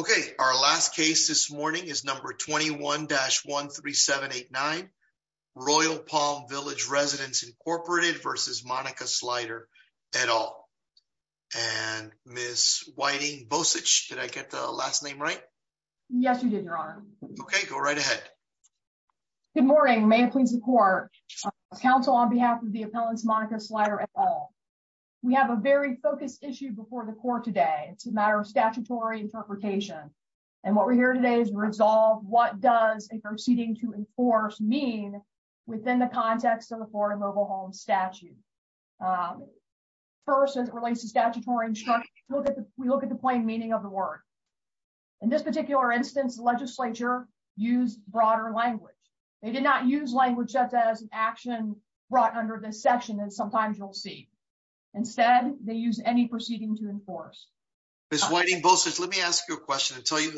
Okay, our last case this morning is number 21-13789 Royal Palm Village Residents, Inc. v. Monica Slider, et al. And Ms. Whiting-Bosich, did I get the last name right? Yes, you did, Your Honor. Okay, go right ahead. Good morning. May it please the Court. Counsel on behalf of the appellants, Monica Slider, et al. We have a very focused issue before the Court today. It's a matter of statutory interpretation. And what we're here today is to resolve what does a proceeding to enforce mean within the context of a foreign mobile home statute. First, as it relates to statutory instruction, we look at the plain meaning of the word. In this particular instance, the legislature used broader language. They did not use language as an action brought under this section, as sometimes you'll see. Instead, they used any proceeding to enforce. Ms. Whiting-Bosich, let me ask you a question and tell you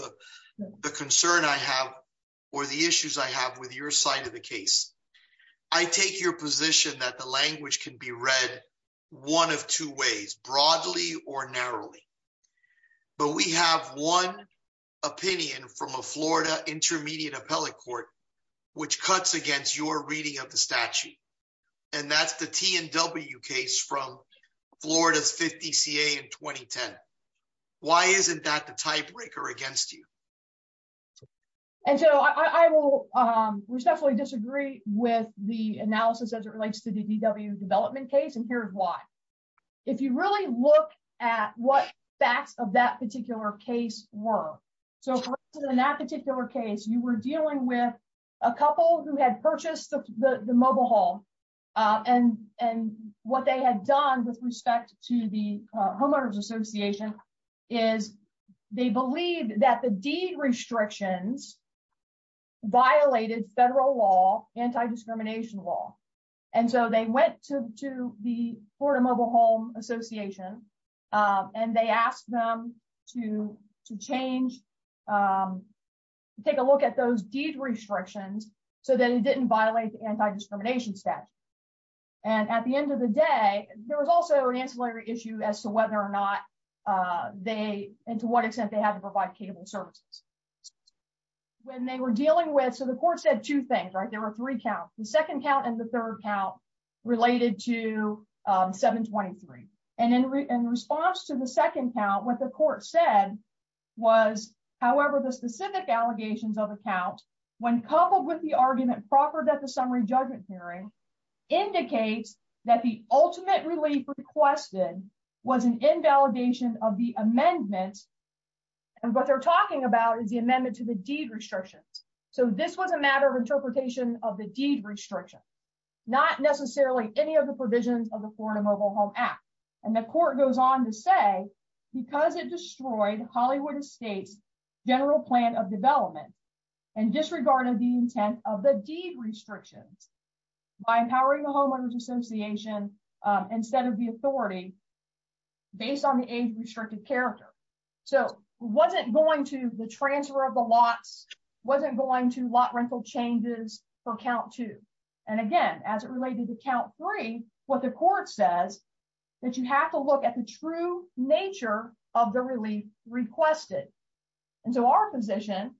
the concern I have or the issues I have with your side of the case. I take your position that the language can be read one of two ways, broadly or narrowly. But we have one opinion from a Florida intermediate appellate court, which cuts against your reading of the statute. And that's the T&W case from Florida's 50 CA in 2010. Why isn't that the tiebreaker against you? And so I will respectfully disagree with the analysis as it relates to the DW development case, and here's why. If you really look at what facts of that particular case were. So in that particular case, you were dealing with a couple who had purchased the mobile home. And what they had done with respect to the homeowners association is they believed that the deed restrictions violated federal law, anti-discrimination law. And so they went to the Florida Mobile Home Association and they asked them to change, take a look at those deed restrictions so that it didn't violate the anti-discrimination statute. And at the end of the day, there was also an ancillary issue as to whether or not they, and to what extent they had to provide cable services. When they were dealing with, so the court said two things, right, there were three counts, the second count and the third count related to 723. And in response to the second count, what the court said was, however, the specific allegations of the count, when coupled with the argument proffered at the summary judgment hearing, indicates that the ultimate relief requested was an invalidation of the amendments. And what they're talking about is the amendment to the deed restrictions. So this was a matter of interpretation of the deed restriction, not necessarily any of the provisions of the Florida Mobile Home Act. And the court goes on to say, because it destroyed Hollywood Estates general plan of development and disregarded the intent of the deed restrictions by empowering the homeowners association, instead of the authority, based on the age restricted character. So wasn't going to the transfer of the lots, wasn't going to lot rental changes for count two. And again, as it related to count three, what the court says that you have to look at the true nature of the relief requested. And so our position,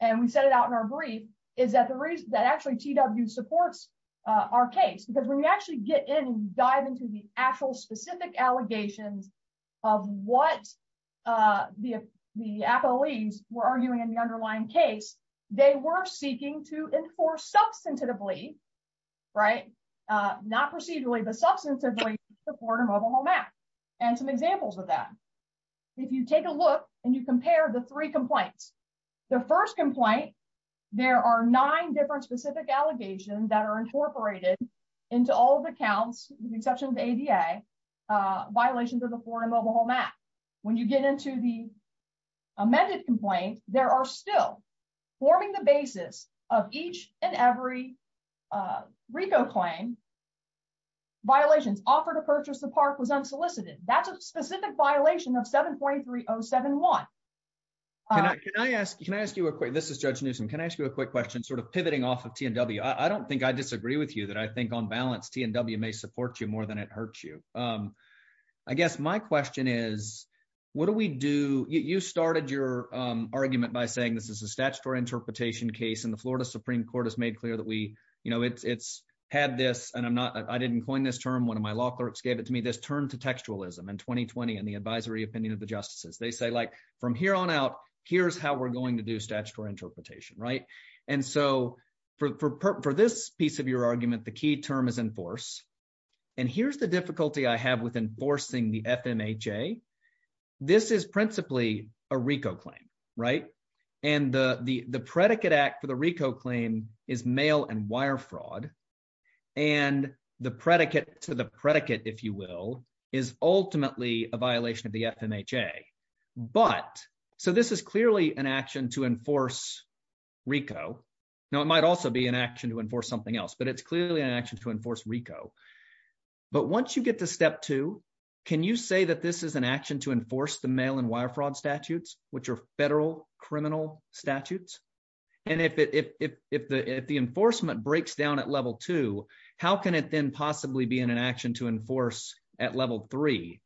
and we set it out in our brief, is that the reason that actually TW supports our case because when you actually get in and dive into the actual specific allegations of what the, the affilies were arguing in the underlying case, they were seeking to enforce substantively, right, not procedurally but substantively, the Florida Mobile Home Act, and some examples of that. If you take a look, and you compare the three complaints. The first complaint. There are nine different specific allegations that are incorporated into all the counts, with the exception of ADA violations of the Florida Mobile Home Act. When you get into the amended complaint, there are still forming the basis of each and every Rico claim violations offer to purchase the park was unsolicited, that's a specific violation of 7.3071. Can I ask you, can I ask you a quick, this is Judge Newsome, can I ask you a quick question sort of pivoting off of T&W, I don't think I disagree with you that I think on balance T&W may support you more than it hurts you. I guess my question is, what do we do, you started your argument by saying this is a statutory interpretation case in the Florida Supreme Court has made clear that we, you know, it's had this and I'm not I didn't coin this term one of my law clerks gave it to me this turn to textualism and 2020 and the advisory opinion of the justices they say like, from here on out, here's how we're going to do statutory interpretation right. And so, for this piece of your argument the key term is in force. And here's the difficulty I have with enforcing the FMH a. This is principally a Rico claim. Right. And the, the, the predicate act for the Rico claim is mail and wire fraud. And the predicate to the predicate, if you will, is ultimately a violation of the FMH a. But, so this is clearly an action to enforce Rico. Now it might also be an action to enforce something else but it's clearly an action to enforce Rico. But once you get to step two. Can you say that this is an action to enforce the mail and wire fraud statutes, which are federal criminal statutes. And if it if the if the enforcement breaks down at level two, how can it then possibly be in an action to enforce at level three,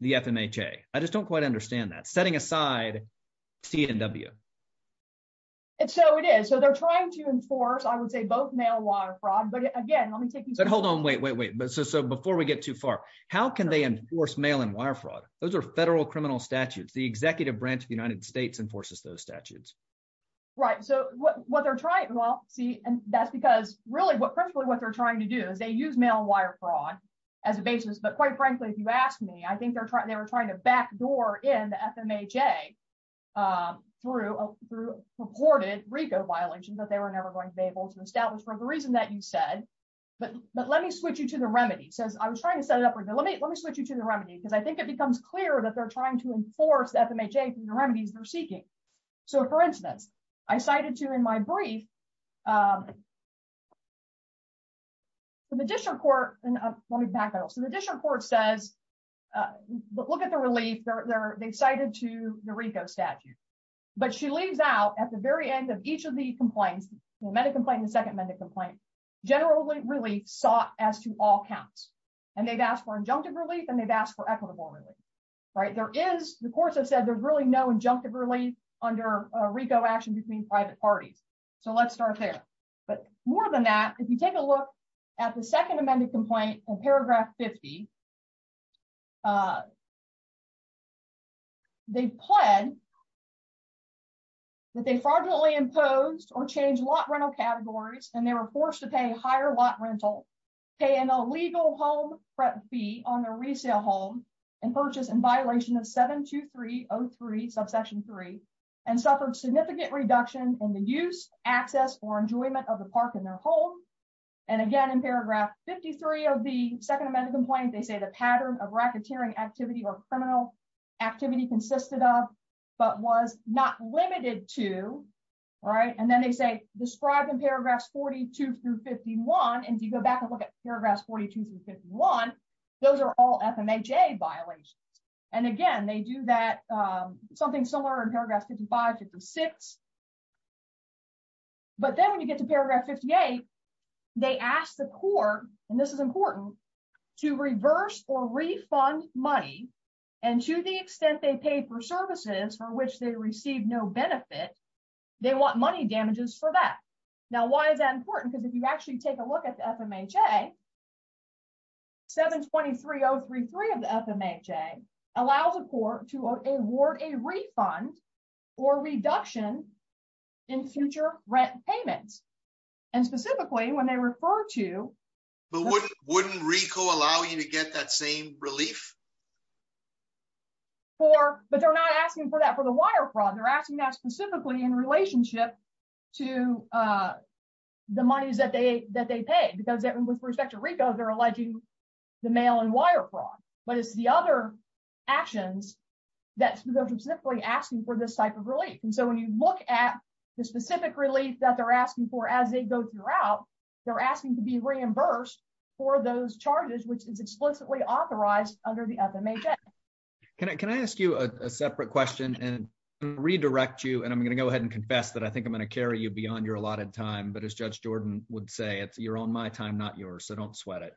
the FMH a, I just don't quite understand that setting aside. And so it is so they're trying to enforce I would say both mail wire fraud but again let me take you but hold on wait wait wait but so so before we get too far. How can they enforce mail and wire fraud, those are federal criminal statutes the executive branch of the United States enforces those statutes. Right, so what they're trying to well see, and that's because really what personally what they're trying to do is they use mail wire fraud as a basis but quite frankly if you ask me I think they're trying they were trying to back door in FMH a through through reported Rico violations that they were never going to be able to establish for the reason that you said, but, but let me switch you to the remedy says I was trying to set it up right now let me let me switch you to the remedy because I think it becomes clear that they're trying to enforce that the major remedies they're seeking. So for instance, I cited to in my brief for the district court, and let me back out so the district court says, look at the relief, they're excited to the Rico statute. But she leaves out at the very end of each of the complaints, medical plan the second minute complaint generally really sought as to all counts, and they've asked for injunctive relief and they've asked for equitable. Right, there is the courts have said there's really no injunctive relief under Rico action between private parties. So let's start there. But more than that, if you take a look at the Second Amendment complaint and paragraph 50. They plan that they fraudulently imposed or change lot rental categories, and they were forced to pay higher lot rental pay an illegal home prep fee on a resale home and purchase in violation of 72303 subsection three, and suffered significant reduction in the use, access or enjoyment of the park in their home. And again in paragraph 53 of the Second Amendment complaint they say the pattern of racketeering activity or criminal activity consisted of, but was not limited to. Right, and then they say, describing paragraphs 42 through 51 and you go back and look at paragraphs 42 through 51. Those are all FM a J violation. And again, they do that. Something similar in paragraphs 55 to six. But then when you get to paragraph 58. They asked the court, and this is important to reverse or refund money. And to the extent they pay for services for which they received no benefit. They want money damages for that. Now why is that important because if you actually take a look at FM a J 720 3033 of FM a J allows a court to award a refund or reduction in future rent payments, and specifically when they refer to. But wouldn't wouldn't Rico allow you to get that same relief. For, but they're not asking for that for the wire fraud they're asking that specifically in relationship to the monies that they that they pay because it was respect to Rico they're alleging the mail and wire fraud, but it's the other actions that asking for this type of relief and so when you look at the specific relief that they're asking for as they go throughout, they're asking to be reimbursed for those charges which is explicitly authorized under the FM a J. Can I can I ask you a separate question and redirect you and I'm going to go ahead and confess that I think I'm going to carry you beyond your allotted time but as Judge Jordan would say it's you're on my time not yours so don't sweat it.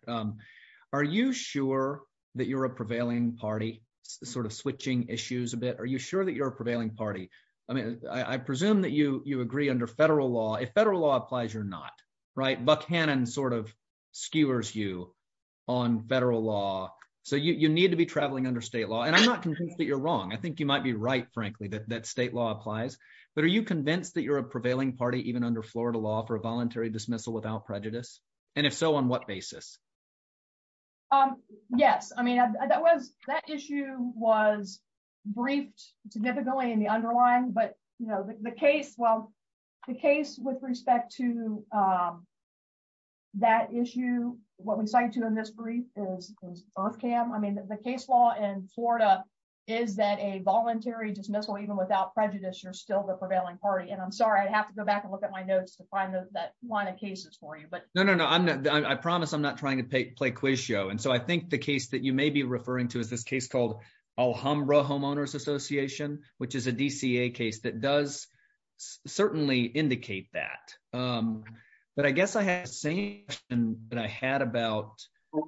Are you sure that you're a prevailing party, sort of switching issues a bit Are you sure that you're a prevailing party. I mean, I presume that you, you agree under federal law if federal law applies you're not right Buckhannon sort of skewers you on federal law, so you need to be traveling under state law and I'm not convinced that you're wrong I think you might be right, frankly, that that state law applies. But are you convinced that you're a prevailing party even under Florida law for voluntary dismissal without prejudice, and if so on what basis. Um, yes, I mean that was that issue was briefed significantly in the underlying but you know the case well the case with respect to that issue, what we cited in this brief is earth cam I mean the case law in Florida, is that a voluntary dismissal without prejudice you're still the prevailing party and I'm sorry I have to go back and look at my notes to find those that wanted cases for you but no no no I'm not I promise I'm not trying to pay play quiz show and so I think the case that you may be referring to is this case called alhambra homeowners association, which is a DCA case that does certainly indicate that. But I guess I had saying that I had about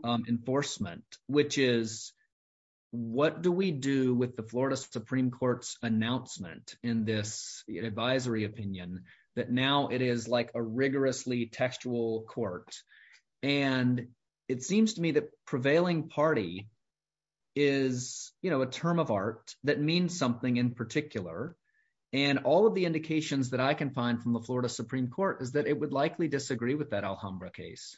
enforcement, which is what do we do with the Florida Supreme Court's announcement in this advisory opinion that now it is like a rigorously textual court. And it seems to me that prevailing party is, you know, a term of art, that means something in particular, and all of the indications that I can find from the Florida Supreme Court is that it would likely disagree with that alhambra case.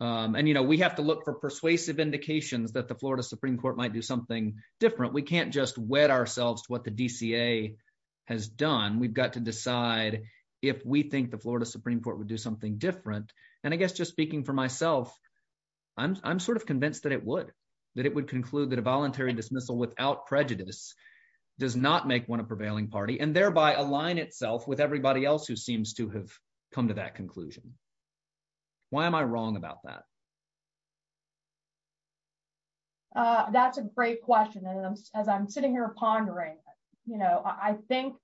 And you know we have to look for persuasive indications that the Florida Supreme Court might do something different we can't just wet ourselves to what the DCA has done we've got to decide if we think the Florida Supreme Court would do something different. And I guess just speaking for myself. I'm sort of convinced that it would that it would conclude that a voluntary dismissal without prejudice does not make one a prevailing party and thereby align itself with everybody else who seems to have come to that conclusion. Why am I wrong about that. That's a great question. And as I'm sitting here pondering, you know, I think,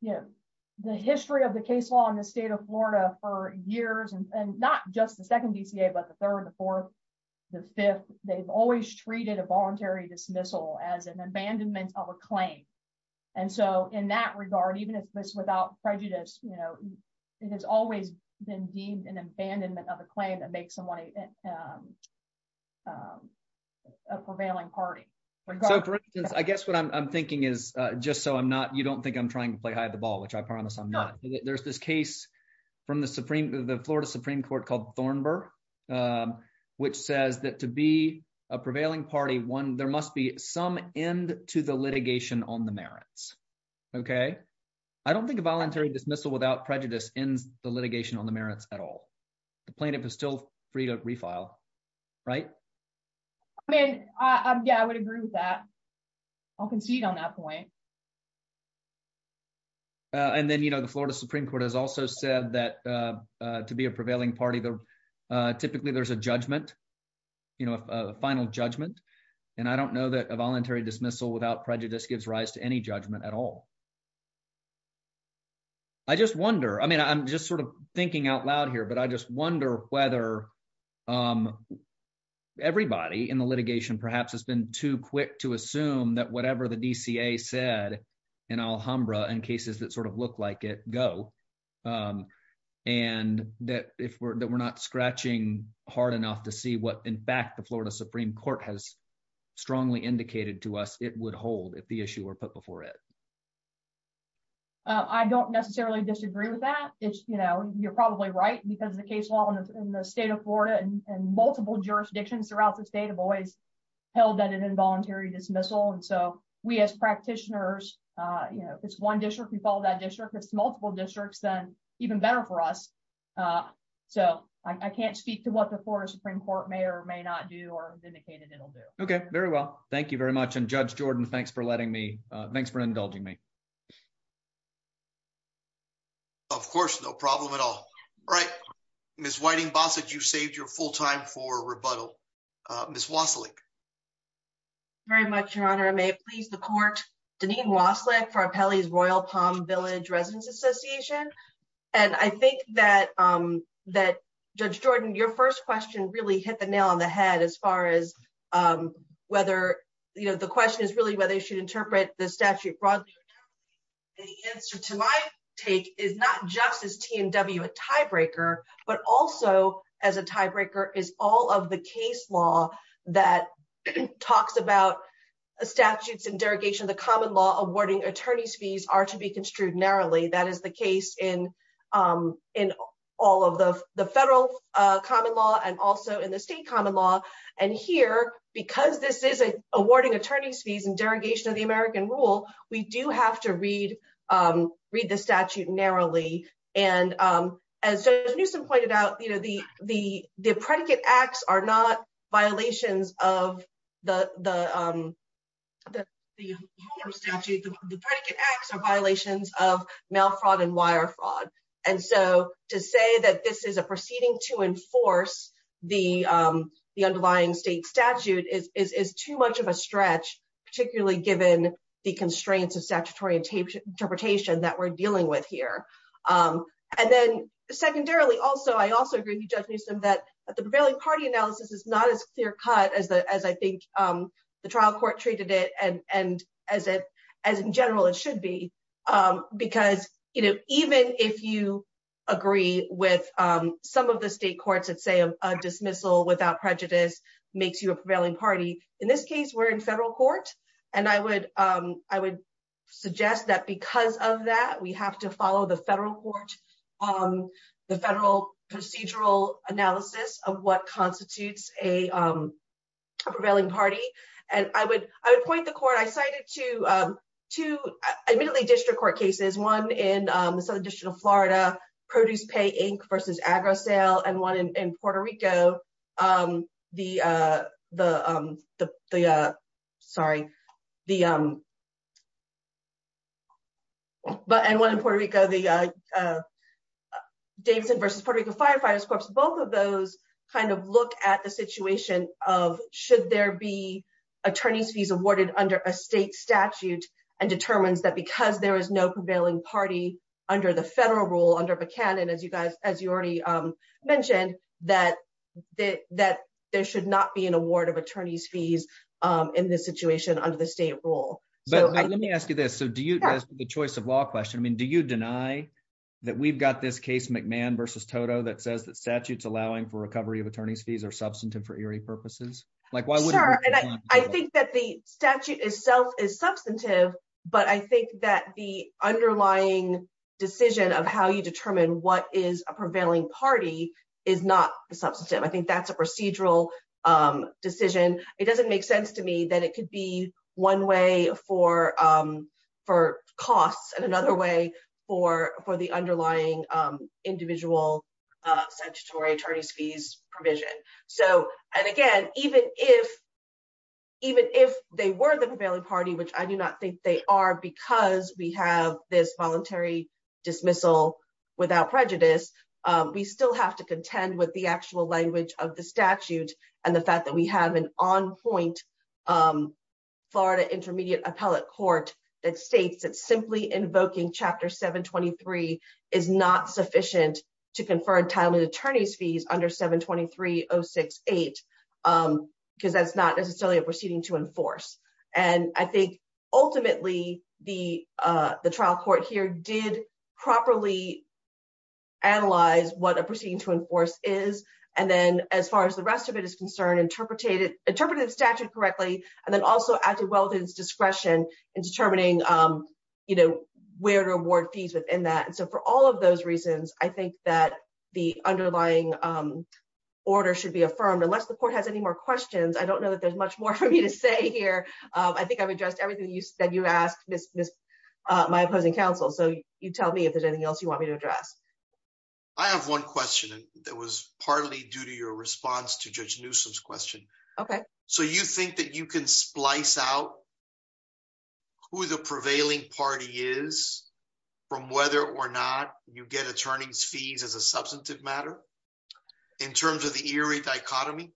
you know, the history of the case law in the state of Florida for years and not just the second DCA but the third, the fourth, the fifth, they've always treated a voluntary dismissal as an abandonment of a claim. And so in that regard, even if this without prejudice, you know, it has always been deemed an abandonment of a claim that makes someone a prevailing party. I guess what I'm thinking is, just so I'm not you don't think I'm trying to play hide the ball which I promise I'm not. There's this case from the Supreme, the Florida Supreme Court called Thornburg, which says that to be a prevailing party one there must be some end to the litigation on the merits. Okay. I don't think a voluntary dismissal without prejudice in the litigation on the merits at all. Right. I mean, I'm yeah I would agree with that. I'll concede on that point. And then you know the Florida Supreme Court has also said that to be a prevailing party there. Typically there's a judgment. You know, a final judgment. And I don't know that a voluntary dismissal without prejudice gives rise to any judgment at all. I just wonder, I mean I'm just sort of thinking out loud here but I just wonder whether everybody in the litigation perhaps has been too quick to assume that whatever the DCA said in Alhambra and cases that sort of look like it go. And that if we're not scratching hard enough to see what in fact the Florida Supreme Court has strongly indicated to us it would hold if the issue were put before it. I don't necessarily disagree with that. It's, you know, you're probably right because the case law in the state of Florida and multiple jurisdictions throughout the state of always held that an involuntary dismissal and so we as practitioners. You know, it's one district we follow that district it's multiple districts then even better for us. So, I can't speak to what the Florida Supreme Court may or may not do or indicated it'll do. Okay, very well. Thank you very much and Judge Jordan thanks for letting me. Thanks for indulging me. Of course, no problem at all. Right. Miss whiting boss that you saved your full time for rebuttal. Miss was like very much Your Honor may please the court, Denise was like for our Pelley's Royal Palm Village Residence Association. And I think that that judge Jordan your first question really hit the nail on the head as far as whether you know the question is really whether you should interpret the statute broadly. The answer to my take is not just as T&W a tiebreaker, but also as a tiebreaker is all of the case law that talks about statutes and derogation of the common law awarding attorneys fees are to be construed narrowly that is the case in. In all of the federal common law and also in the state common law, and here, because this is a awarding attorneys fees and derogation of the American rule, we do have to read, read the statute narrowly. And as soon as Newsome pointed out, you know, the, the, the predicate acts are not violations of the statute, the predicate acts are violations of mail fraud and wire fraud. And so, to say that this is a proceeding to enforce the, the underlying state statute is too much of a stretch, particularly given the constraints of statutory interpretation that we're dealing with here. And then, secondarily, also, I also agree with Judge Newsome that the prevailing party analysis is not as clear cut as the as I think the trial court treated it and and as it as in general, it should be. Because, you know, even if you agree with some of the state courts that say a dismissal without prejudice makes you a prevailing party. In this case, we're in federal court, and I would, I would suggest that because of that we have to follow the federal court. The federal procedural analysis of what constitutes a prevailing party, and I would, I would point the court I cited to to admittedly district court cases, one in the Southern District of Florida produce pay Inc versus agro sale and one in Puerto Rico. The, the, the, sorry, the. But and one in Puerto Rico, the Davidson versus Puerto Rico Firefighters Corps, both of those kind of look at the situation of should there be attorneys fees awarded under a state statute and determines that because there is no prevailing party under the federal rule under McCann and as you guys, as you already mentioned that, that, that there should not be an award of attorneys fees in this situation under the state rule. So let me ask you this so do you have the choice of law question I mean do you deny that we've got this case McMahon versus total that says that statutes allowing for recovery of attorneys fees are substantive for eerie purposes, like why would I think that the statute itself is substantive, but I think that the underlying decision of how you determine what is a prevailing party is not substantive I think that's a procedural decision, it doesn't make sense to me that it could be one way for for costs and another way for for the underlying individual statutory attorneys fees provision. So, and again, even if, even if they were the prevailing party which I do not think they are because we have this voluntary dismissal without prejudice. We still have to contend with the actual language of the statute, and the fact that we have an on point Florida intermediate appellate court that states that simply invoking chapter 723 is not sufficient to confer entitlement attorneys fees under 723 oh six, eight, because that's not necessarily a proceeding to enforce. And I think, ultimately, the, the trial court here did properly analyze what a proceeding to enforce is. And then, as far as the rest of it is concerned interpreted interpreted statute correctly, and then also acted well his discretion and determining, you know, where to I think I've addressed everything you said you asked this, this, my opposing counsel so you tell me if there's anything else you want me to address. I have one question that was partly due to your response to judge Newsom's question. Okay, so you think that you can splice out who the prevailing party is from whether or not you get attorneys fees as a substantive matter. In terms of the eerie dichotomy.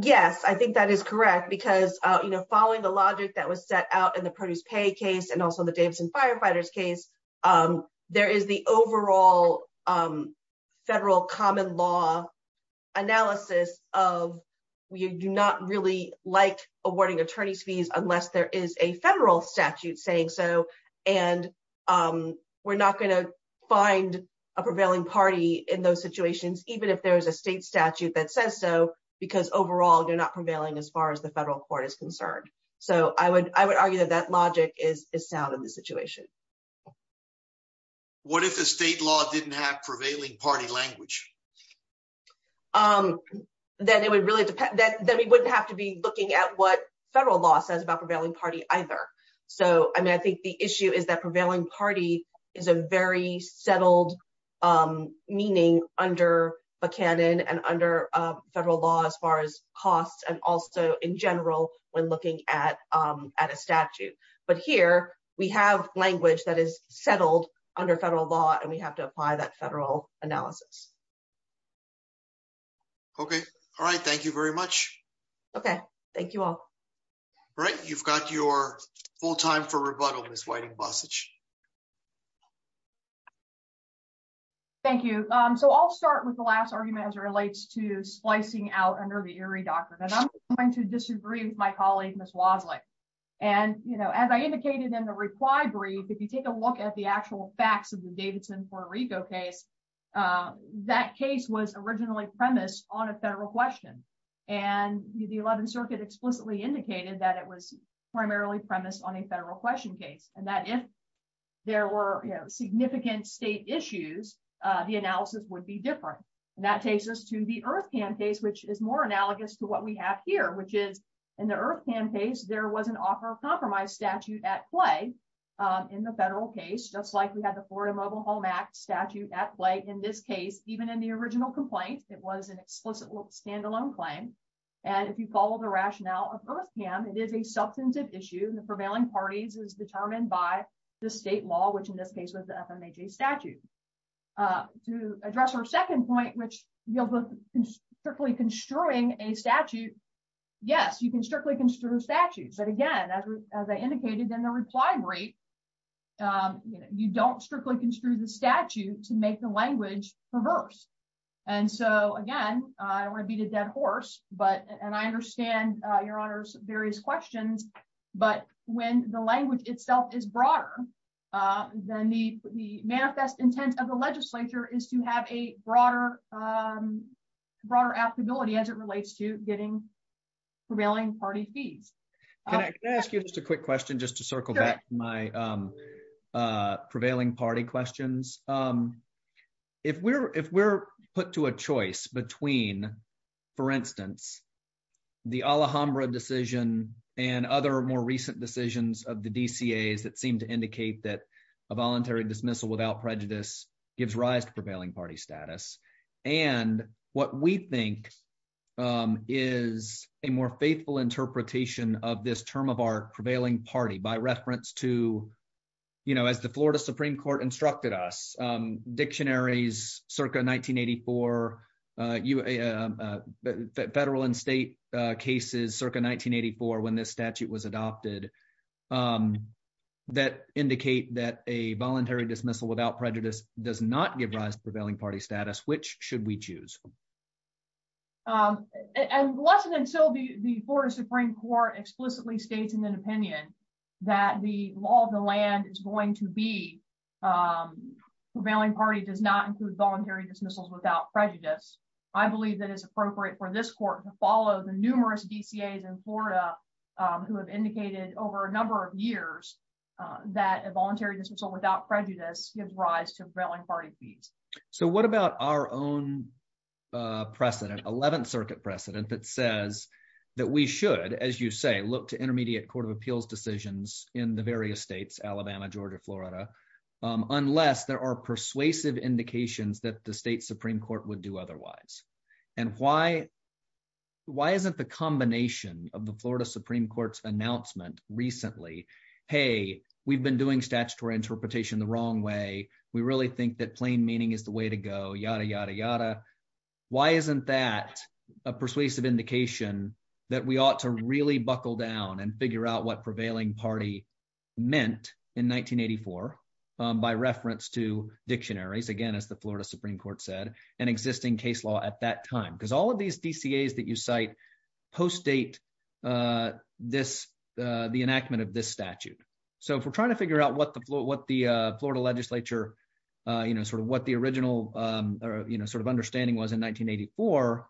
Yes, I think that is correct because, you know, following the logic that was set out in the produce pay case and also the Davidson firefighters case. There is the overall federal common law analysis of, we do not really like awarding attorneys fees, unless there is a federal statute saying so, and we're not going to find a prevailing party in those situations, even if there is a state statute that says so, because overall you're not prevailing as far as the federal court is concerned. So I would, I would argue that that logic is is sound in this situation. What if the state law didn't have prevailing party language. Um, then it would really depend that then we wouldn't have to be looking at what federal law says about prevailing party either. So, I mean, I think the issue is that prevailing party is a very settled. Meaning, under a canon and under federal law as far as costs and also in general, when looking at at a statute, but here we have language that is settled under federal law and we have to apply that federal analysis. Okay. All right. Thank you very much. Okay, thank you all right you've got your full time for rebuttal is waiting passage. Thank you. So I'll start with the last argument as it relates to splicing out a nervy eerie doctor that I'm going to disagree with my colleague, Miss was like, and, you know, as I indicated in the reply brief if you take a look at the actual facts of the Davidson Puerto Rico case. That case was originally premise on a federal question, and the 11th Circuit explicitly indicated that it was primarily premise on a federal question case, and that if there were significant state issues. The analysis would be different. And that takes us to the earth can face which is more analogous to what we have here which is in the earth can face there was an offer of compromise statute at play. In the federal case just like we had the Florida Mobile Home Act statute at play in this case, even in the original complaint, it was an explicit standalone claim. And if you follow the rationale of earth can it is a substantive issue and the prevailing parties is determined by the state law which in this case was the FM AJ statute to address our second point which you'll be strictly construing a statute. Yes, you can strictly construe statutes and again as I indicated in the reply rate. You don't strictly construe the statute to make the language, reverse. And so again, I want to beat a dead horse, but, and I understand your honors various questions, but when the language itself is broader than the, the manifest intent of the legislature is to have a broader, broader applicability as it relates to getting prevailing party fees. Just a quick question just to circle back my prevailing party questions. If we're, if we're put to a choice between, for instance, the Alhambra decision, and other more recent decisions of the DC is that seem to indicate that a voluntary dismissal without prejudice gives rise to prevailing party status. And what we think is a more faithful interpretation of this term of our prevailing party by reference to, you know, as the Florida Supreme Court instructed us dictionaries circa 1984, you a federal and state cases circa 1984 when this statute was adopted. That indicate that a voluntary dismissal without prejudice does not give rise to prevailing party status which should we choose. And lesson until the, the Florida Supreme Court explicitly states in an opinion that the law of the land is going to be prevailing party does not include voluntary dismissals without prejudice. I believe that is appropriate for this court to follow the numerous DCAs in Florida, who have indicated over a number of years that a voluntary dismissal without prejudice gives rise to prevailing party fees. So what about our own precedent 11th Circuit precedent that says that we should, as you say, look to intermediate Court of Appeals decisions in the various states, Alabama, Georgia, Florida, unless there are persuasive indications that the state Supreme Court would do otherwise. And why, why isn't the combination of the Florida Supreme Court's announcement recently. Hey, we've been doing statutory interpretation the wrong way, we really think that plain meaning is the way to go yada yada yada. Why isn't that a persuasive indication that we ought to really buckle down and figure out what prevailing party meant in 1984. By reference to dictionaries again as the Florida Supreme Court said an existing case law at that time because all of these DCAs that you cite post date. This, the enactment of this statute. So if we're trying to figure out what the what the Florida legislature, you know, sort of what the original, you know, sort of understanding was in 1984.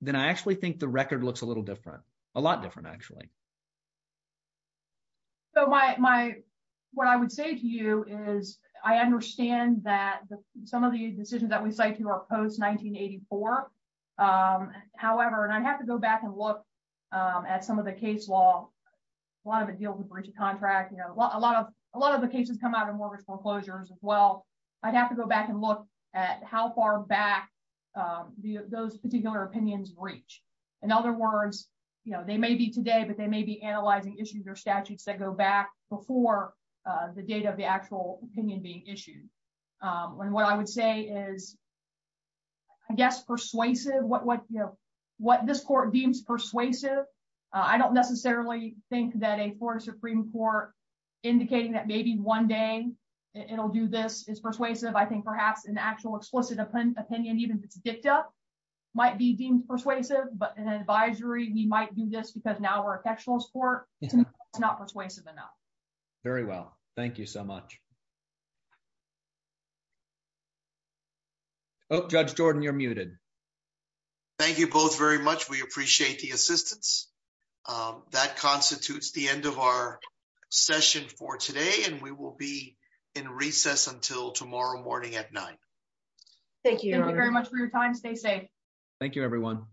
Then I actually think the record looks a little different, a lot different actually. So my, my, what I would say to you is, I understand that some of the decisions that we say to our post 1984. However, and I'd have to go back and look at some of the case law. A lot of it deals with breach of contract you know a lot of a lot of the cases come out of mortgage foreclosures as well. I'd have to go back and look at how far back. Those particular opinions reach. In other words, you know, they may be today but they may be analyzing issues or statutes that go back before the data of the actual opinion being issued. And what I would say is, I guess persuasive what what you know what this court deems persuasive. I don't necessarily think that a Florida Supreme Court, indicating that maybe one day, it'll do this is persuasive I think perhaps an actual explicit opinion even if it's dicta might be deemed persuasive but an advisory we might do this because now we're a textual sport. It's not persuasive enough. Very well, thank you so much. Judge Jordan you're muted. Thank you both very much. We appreciate the assistance. That constitutes the end of our session for today and we will be in recess until tomorrow morning at night. Thank you very much for your time stay safe. Thank you everyone.